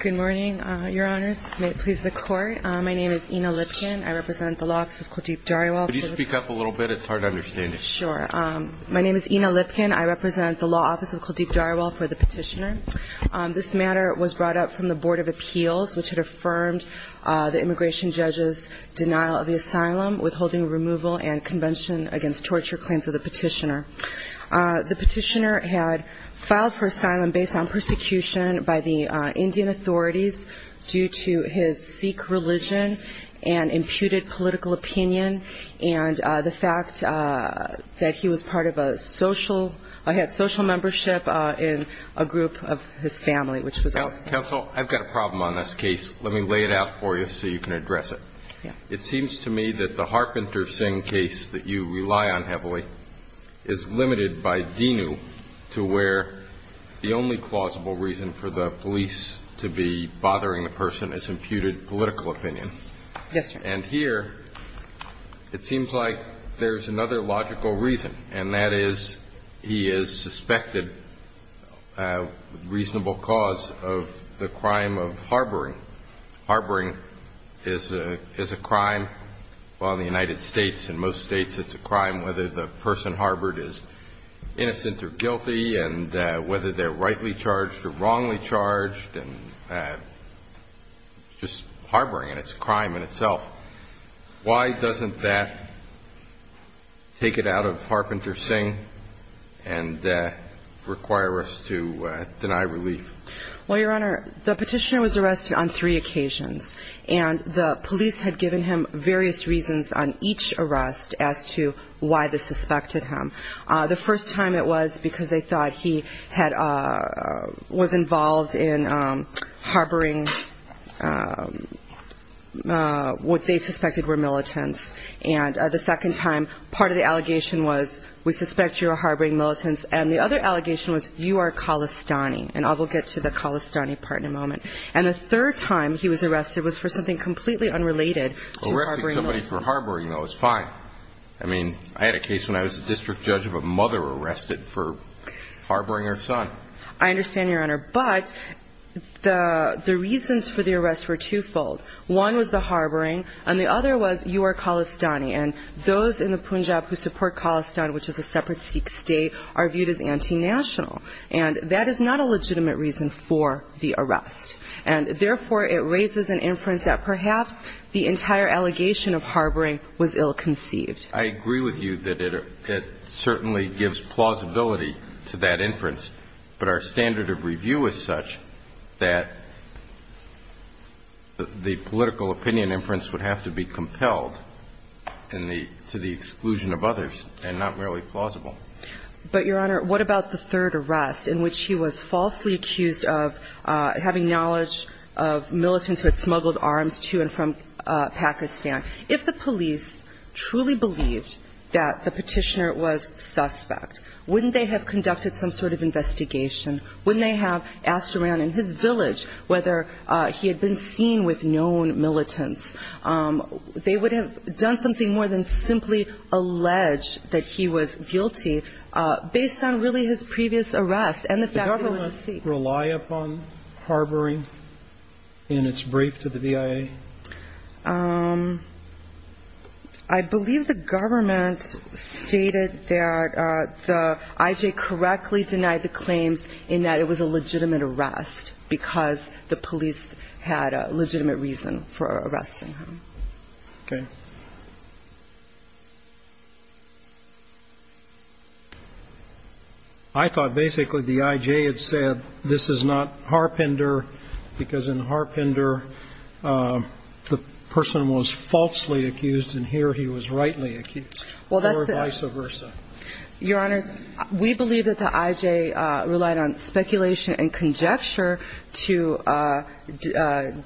Good morning, your honors. May it please the court. My name is Ina Lipkin. I represent the Law Office of Kuldeep Dharawal. Could you speak up a little bit? It's hard to understand you. Sure. My name is Ina Lipkin. I represent the Law Office of Kuldeep Dharawal for the petitioner. This matter was brought up from the Board of Appeals, which had affirmed the immigration judge's denial of the asylum, withholding removal and convention against torture claims of the petitioner. The petitioner had filed for asylum based on persecution by the Indian authorities due to his Sikh religion and imputed political opinion and the fact that he was part of a social – had social membership in a group of his family, which was us. Counsel, I've got a problem on this case. Let me lay it out for you so you can address it. Yeah. It seems to me that the Harpenter Singh case that you rely on heavily is limited by DINU to where the only plausible reason for the police to be bothering the person is imputed political opinion. Yes, Your Honor. And here it seems like there's another logical reason, and that is he is suspected reasonable cause of the crime of harboring. Harboring is a – is a crime. While in the United States and most states it's a crime whether the person harbored is innocent or guilty and whether they're rightly charged or wrongly charged, and just harboring, and it's a crime in itself. Why doesn't that take it out of Harpenter Singh and require us to deny relief? Well, Your Honor, the petitioner was arrested on three occasions, and the police had given him various reasons on each arrest as to why they suspected him. The first time it was because they thought he had – was involved in harboring what they suspected were militants, and the second time part of the allegation was we suspect you're harboring militants, and the other allegation was you are Khalistani, and I will get to the Khalistani part in a moment. And the third time he was arrested was for something completely unrelated to harboring militants. Arresting somebody for harboring, though, is fine. I mean, I had a case when I was a district judge of a mother arrested for harboring her son. I understand, Your Honor, but the reasons for the arrest were twofold. One was the harboring, and the other was you are Khalistani, and those in the Punjab who support Khalistan, which is a separate Sikh state, are viewed as anti-national. And that is not a legitimate reason for the arrest, and therefore it raises an inference that perhaps the entire allegation of harboring was ill-conceived. I agree with you that it certainly gives plausibility to that inference, but our standard of review is such that the political opinion inference would have to be compelled to the exclusion of others and not merely plausible. But, Your Honor, what about the third arrest in which he was falsely accused of having knowledge of militants who had smuggled arms to and from Pakistan? If the police truly believed that the Petitioner was suspect, wouldn't they have conducted some sort of investigation? Wouldn't they have asked around in his village whether he had been seen with known militants? They would have done something more than simply allege that he was guilty based on really his previous arrest and the fact that he was a Sikh. Did the government rely upon harboring in its brief to the V.I.A.? I believe the government stated that the I.J. correctly denied the claims in that it was a legitimate arrest because the police had a legitimate reason for arresting him. Okay. I thought basically the I.J. had said this is not Harpender because in Harpender the person was falsely accused and here he was rightly accused or vice versa. Your Honors, we believe that the I.J. relied on speculation and conjecture to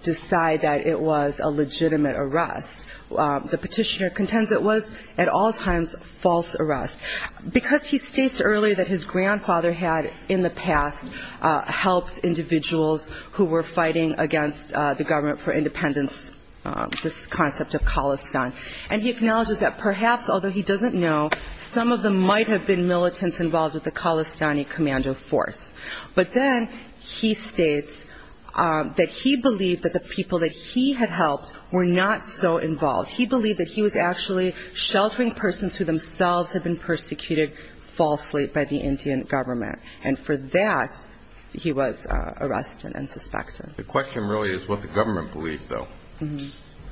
decide that it was a legitimate arrest. The Petitioner contends it was at all times false arrest. Because he states earlier that his grandfather had in the past helped individuals who were fighting against the government for independence, this concept of Khalistan, and he acknowledges that perhaps although he doesn't know, some of them might have been militants involved with the Khalistani commando force. But then he states that he believed that the people that he had helped were not so involved. He believed that he was actually sheltering persons who themselves had been persecuted falsely by the Indian government. And for that he was arrested and suspected. The question really is what the government believes, though.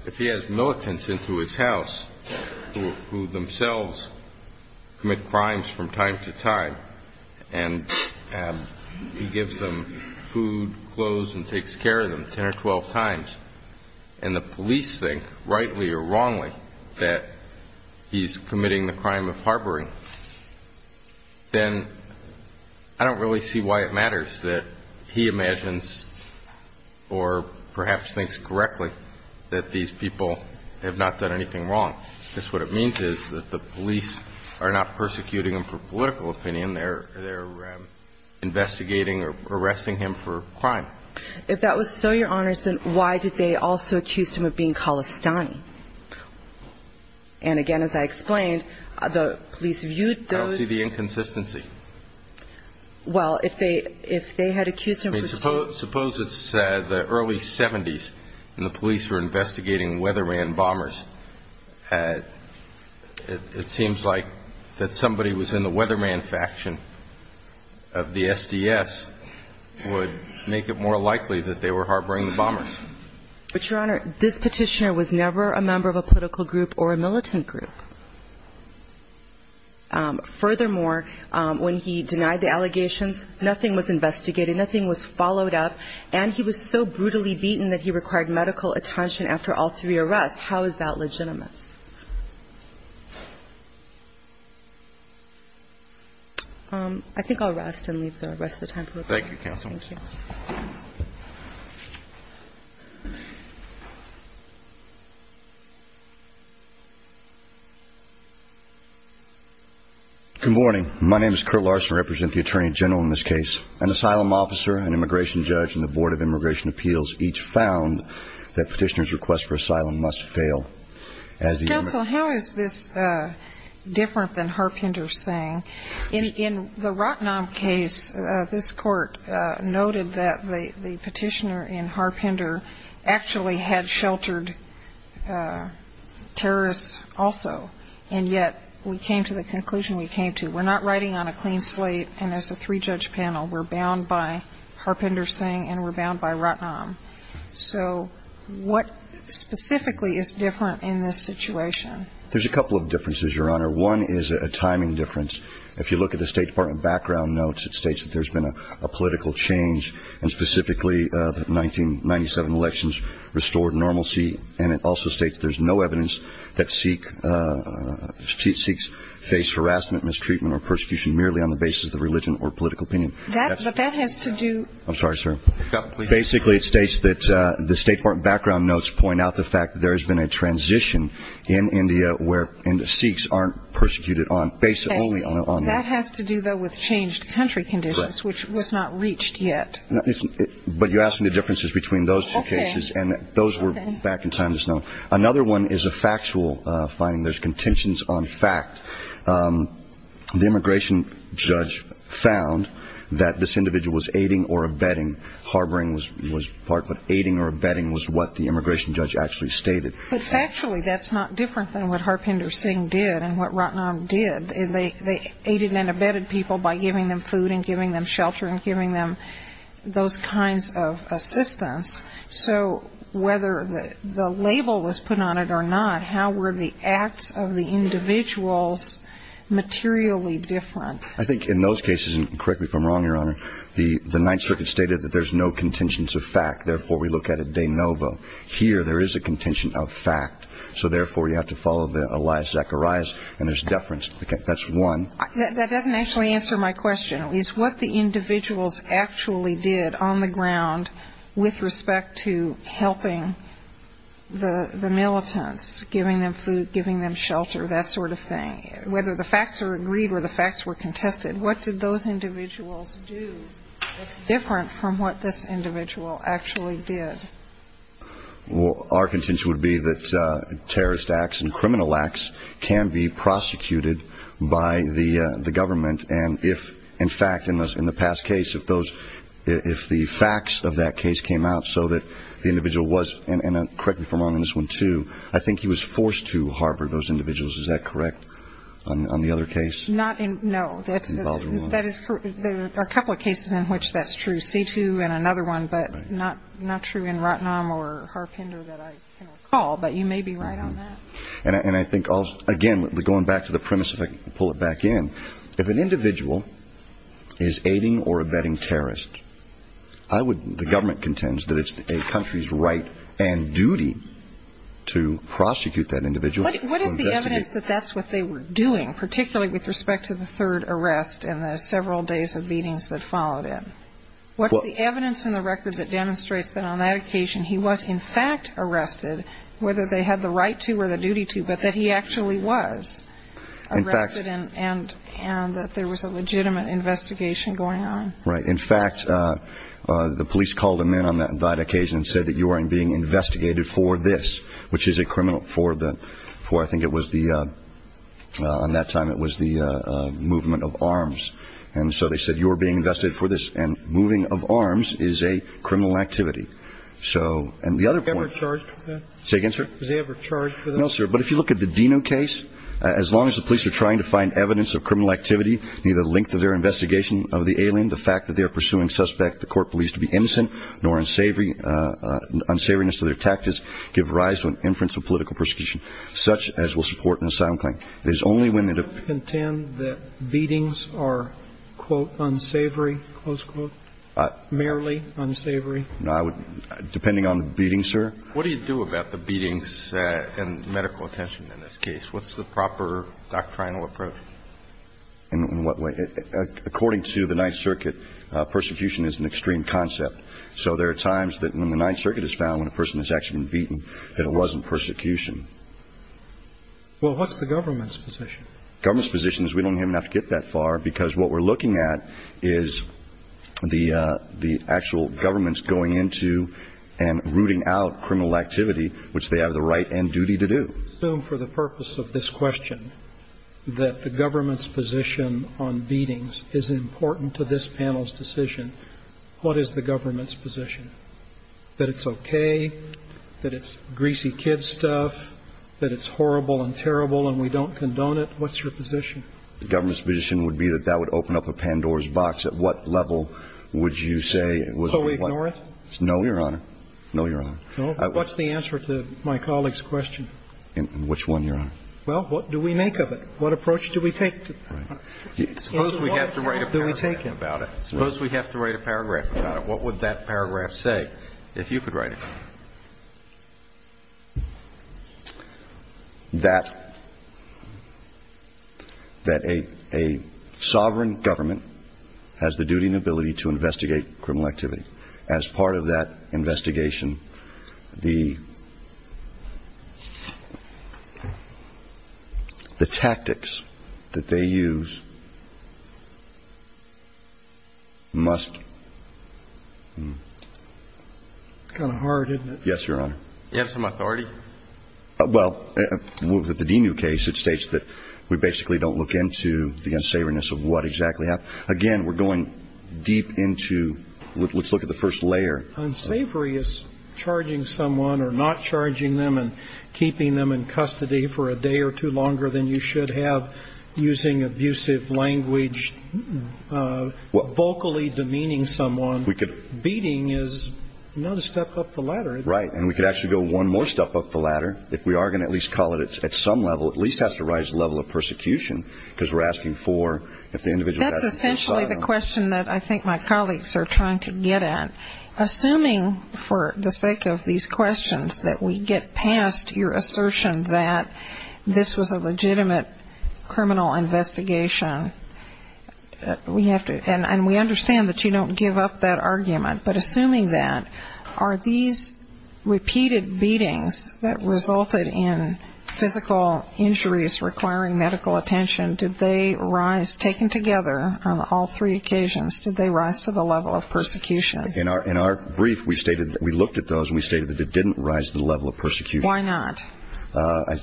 If he has militants into his house who themselves commit crimes from time to time and he gives them food, clothes, and takes care of them 10 or 12 times, and the police think, rightly or wrongly, that he's committing the crime of harboring, then I don't really see why it matters that he imagines or perhaps thinks correctly that these people have not done anything wrong. Because what it means is that the police are not persecuting him for political opinion. They're investigating or arresting him for crime. If that was so, Your Honors, then why did they also accuse him of being Khalistani? And, again, as I explained, the police viewed those. I don't see the inconsistency. Well, if they had accused him. Suppose it's the early 70s and the police were investigating weatherman bombers. It seems like that somebody was in the weatherman faction of the SDS would make it more likely that they were harboring the bombers. But, Your Honor, this Petitioner was never a member of a political group or a militant group. Furthermore, when he denied the allegations, nothing was investigated, nothing was followed up, and he was so brutally beaten that he required medical attention after all three arrests. How is that legitimate? I think I'll rest and leave the rest of the time for questions. Thank you, Counsel. Thank you. Good morning. My name is Curt Larson. I represent the Attorney General in this case. An asylum officer, an immigration judge, and the Board of Immigration Appeals each found that Petitioner's request for asylum must fail as the immigrant. Counsel, how is this different than Harpender saying? In the Rotnam case, this Court noted that the Petitioner and Harpender actually had sheltered terrorists also, and yet we came to the conclusion we came to. We're not riding on a clean slate, and as a three-judge panel, we're bound by Harpender saying and we're bound by Rotnam. So what specifically is different in this situation? There's a couple of differences, Your Honor. One is a timing difference. If you look at the State Department background notes, it states that there's been a political change, and specifically the 1997 elections restored normalcy, and it also states there's no evidence that Sikhs face harassment, mistreatment, or persecution merely on the basis of religion or political opinion. But that has to do – I'm sorry, sir. Basically, it states that the State Department background notes point out the fact that there has been a transition in India where Sikhs aren't persecuted on – based only on – That has to do, though, with changed country conditions, which was not reached yet. But you're asking the differences between those two cases, and those were back in times known. Another one is a factual finding. There's contentions on fact. The immigration judge found that this individual was aiding or abetting. Harboring was part of it. Aiding or abetting was what the immigration judge actually stated. But factually, that's not different than what Harpinder Singh did and what Rotnam did. They aided and abetted people by giving them food and giving them shelter and giving them those kinds of assistance. So whether the label was put on it or not, how were the acts of the individuals materially different? I think in those cases, and correct me if I'm wrong, Your Honor, the Ninth Circuit stated that there's no contentions of fact. Therefore, we look at it de novo. Here, there is a contention of fact. So therefore, you have to follow the Elias Zacharias, and there's deference. That's one. That doesn't actually answer my question. Is what the individuals actually did on the ground with respect to helping the militants, giving them food, giving them shelter, that sort of thing, whether the facts are agreed or the facts were contested, what did those individuals do that's different from what this individual actually did? Well, our contention would be that terrorist acts and criminal acts can be prosecuted by the government, and if, in fact, in the past case, if the facts of that case came out so that the individual was, and correct me if I'm wrong on this one, too, I think he was forced to harbor those individuals. Is that correct on the other case? No. That is correct. There are a couple of cases in which that's true, C-2 and another one, but not true in Rottenham or Harpender that I recall, but you may be right on that. And I think, again, going back to the premise, if I can pull it back in, if an individual is aiding or abetting terrorists, the government contends that it's a country's right and duty to prosecute that individual. What is the evidence that that's what they were doing, particularly with respect to the third arrest and the several days of beatings that followed it? What's the evidence in the record that demonstrates that on that occasion he was, in fact, arrested, whether they had the right to or the duty to, but that he actually was arrested and that there was a legitimate investigation going on? Right. In fact, the police called him in on that occasion and said that you are being investigated for this, which is a criminal for the – I think it was the – on that time it was the movement of arms. And so they said you were being investigated for this, and moving of arms is a criminal activity. So – and the other point – Was he ever charged for that? Say again, sir? Was he ever charged for that? No, sir. But if you look at the Dino case, as long as the police are trying to find evidence of criminal activity near the length of their investigation of the alien, the fact that they are pursuing suspect the court believes to be innocent nor unsavory – unsavoriness to their tactics give rise to an inference of political persecution, such as will support an asylum claim. It is only when the – Do you contend that beatings are, quote, unsavory, close quote, merely unsavory? I would – depending on the beating, sir. What do you do about the beatings and medical attention in this case? What's the proper doctrinal approach? In what way? According to the Ninth Circuit, persecution is an extreme concept. So there are times that when the Ninth Circuit has found when a person has actually been beaten that it wasn't persecution. Well, what's the government's position? Government's position is we don't even have to get that far, because what we're looking at is the actual government's going into and rooting out criminal activity, which they have the right and duty to do. I assume for the purpose of this question that the government's position on beatings is important to this panel's decision. What is the government's position, that it's okay, that it's greasy kid stuff, that it's horrible and terrible and we don't condone it? What's your position? The government's position would be that that would open up a Pandora's box. At what level would you say? So we ignore it? No, Your Honor. No, Your Honor. What's the answer to my colleague's question? Which one, Your Honor? Well, what do we make of it? What approach do we take? Suppose we have to write a paragraph about it. Suppose we have to write a paragraph about it. What would that paragraph say, if you could write it? That a sovereign government has the duty and ability to investigate criminal activity. As part of that investigation, the tactics that they use must... It's kind of hard, isn't it? Yes, Your Honor. Do you have some authority? Well, with the Demu case, it states that we basically don't look into the unsavoriness of what exactly happened. Again, we're going deep into, let's look at the first layer. Unsavory is charging someone or not charging them and keeping them in custody for a day or two longer than you should have, using abusive language, vocally demeaning someone. And beating is another step up the ladder, isn't it? Right. And we could actually go one more step up the ladder. If we are going to at least call it at some level, at least it has to rise to the level of persecution, because we're asking for if the individual... That's essentially the question that I think my colleagues are trying to get at. Assuming for the sake of these questions that we get past your assertion that this was a legitimate criminal investigation, and we understand that you don't give up that argument, but assuming that, are these repeated beatings that resulted in physical injuries requiring medical attention, did they rise, taken together on all three occasions, did they rise to the level of persecution? In our brief, we looked at those and we stated that it didn't rise to the level of persecution. Why not?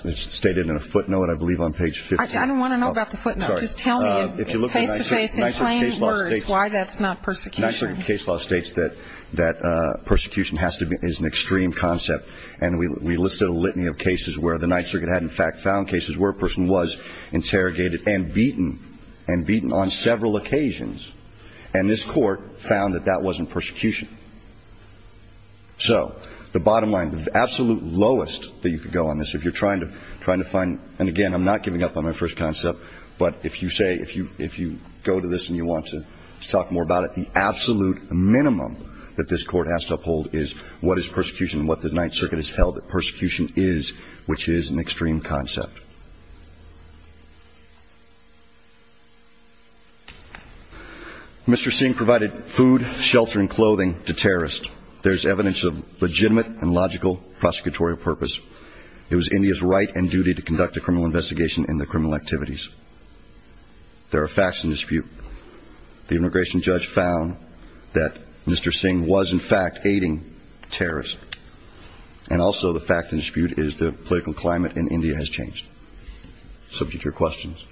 It's stated in a footnote, I believe, on page 15. I don't want to know about the footnote. Just tell me in face-to-face and plain words why that's not persecution. The Ninth Circuit case law states that persecution is an extreme concept, and we listed a litany of cases where the Ninth Circuit had, in fact, found cases where a person was interrogated and beaten, and beaten on several occasions, and this Court found that that wasn't persecution. So the bottom line, the absolute lowest that you could go on this, if you're trying to find, and again, I'm not giving up on my first concept, but if you say, if you go to this and you want to talk more about it, the absolute minimum that this Court has to uphold is what is persecution and what the Ninth Circuit has held that persecution is, which is an extreme concept. Mr. Singh provided food, shelter, and clothing to terrorists. There's evidence of legitimate and logical prosecutorial purpose. It was India's right and duty to conduct a criminal investigation into criminal activities. There are facts in dispute. The immigration judge found that Mr. Singh was, in fact, aiding terrorists, and also the fact in dispute is the political climate in India has changed. Subject to your questions.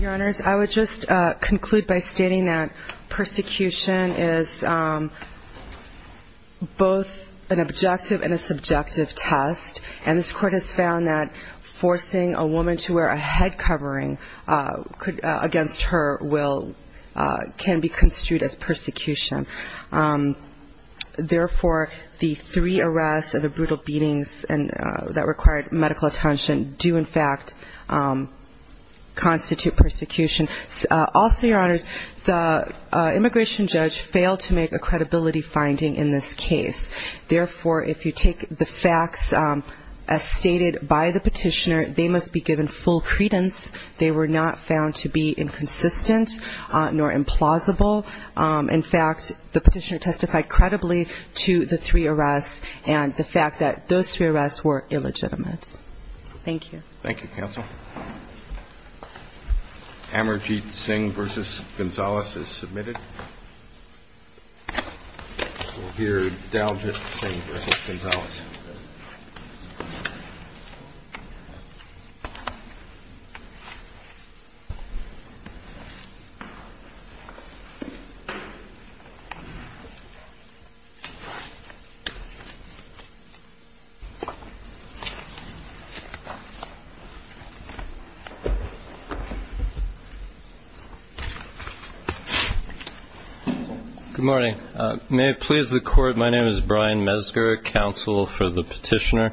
Your Honors, I would just conclude by stating that persecution is both an objective and a subjective test, and this Court has found that forcing a woman to wear a head covering against her will can be construed as persecution. Therefore, the three arrests and the brutal beatings that required medical attention do, in fact, constitute persecution. Also, Your Honors, the immigration judge failed to make a credibility finding in this case. Therefore, if you take the facts as stated by the petitioner, they must be given full credence. They were not found to be inconsistent nor implausible. In fact, the petitioner testified credibly to the three arrests and the fact that those three arrests were illegitimate. Thank you. Thank you, counsel. We'll hear Dow just the same as Mr. Gonzalez. Good morning. May it please the Court, my name is Brian Mesger, counsel for the petitioner.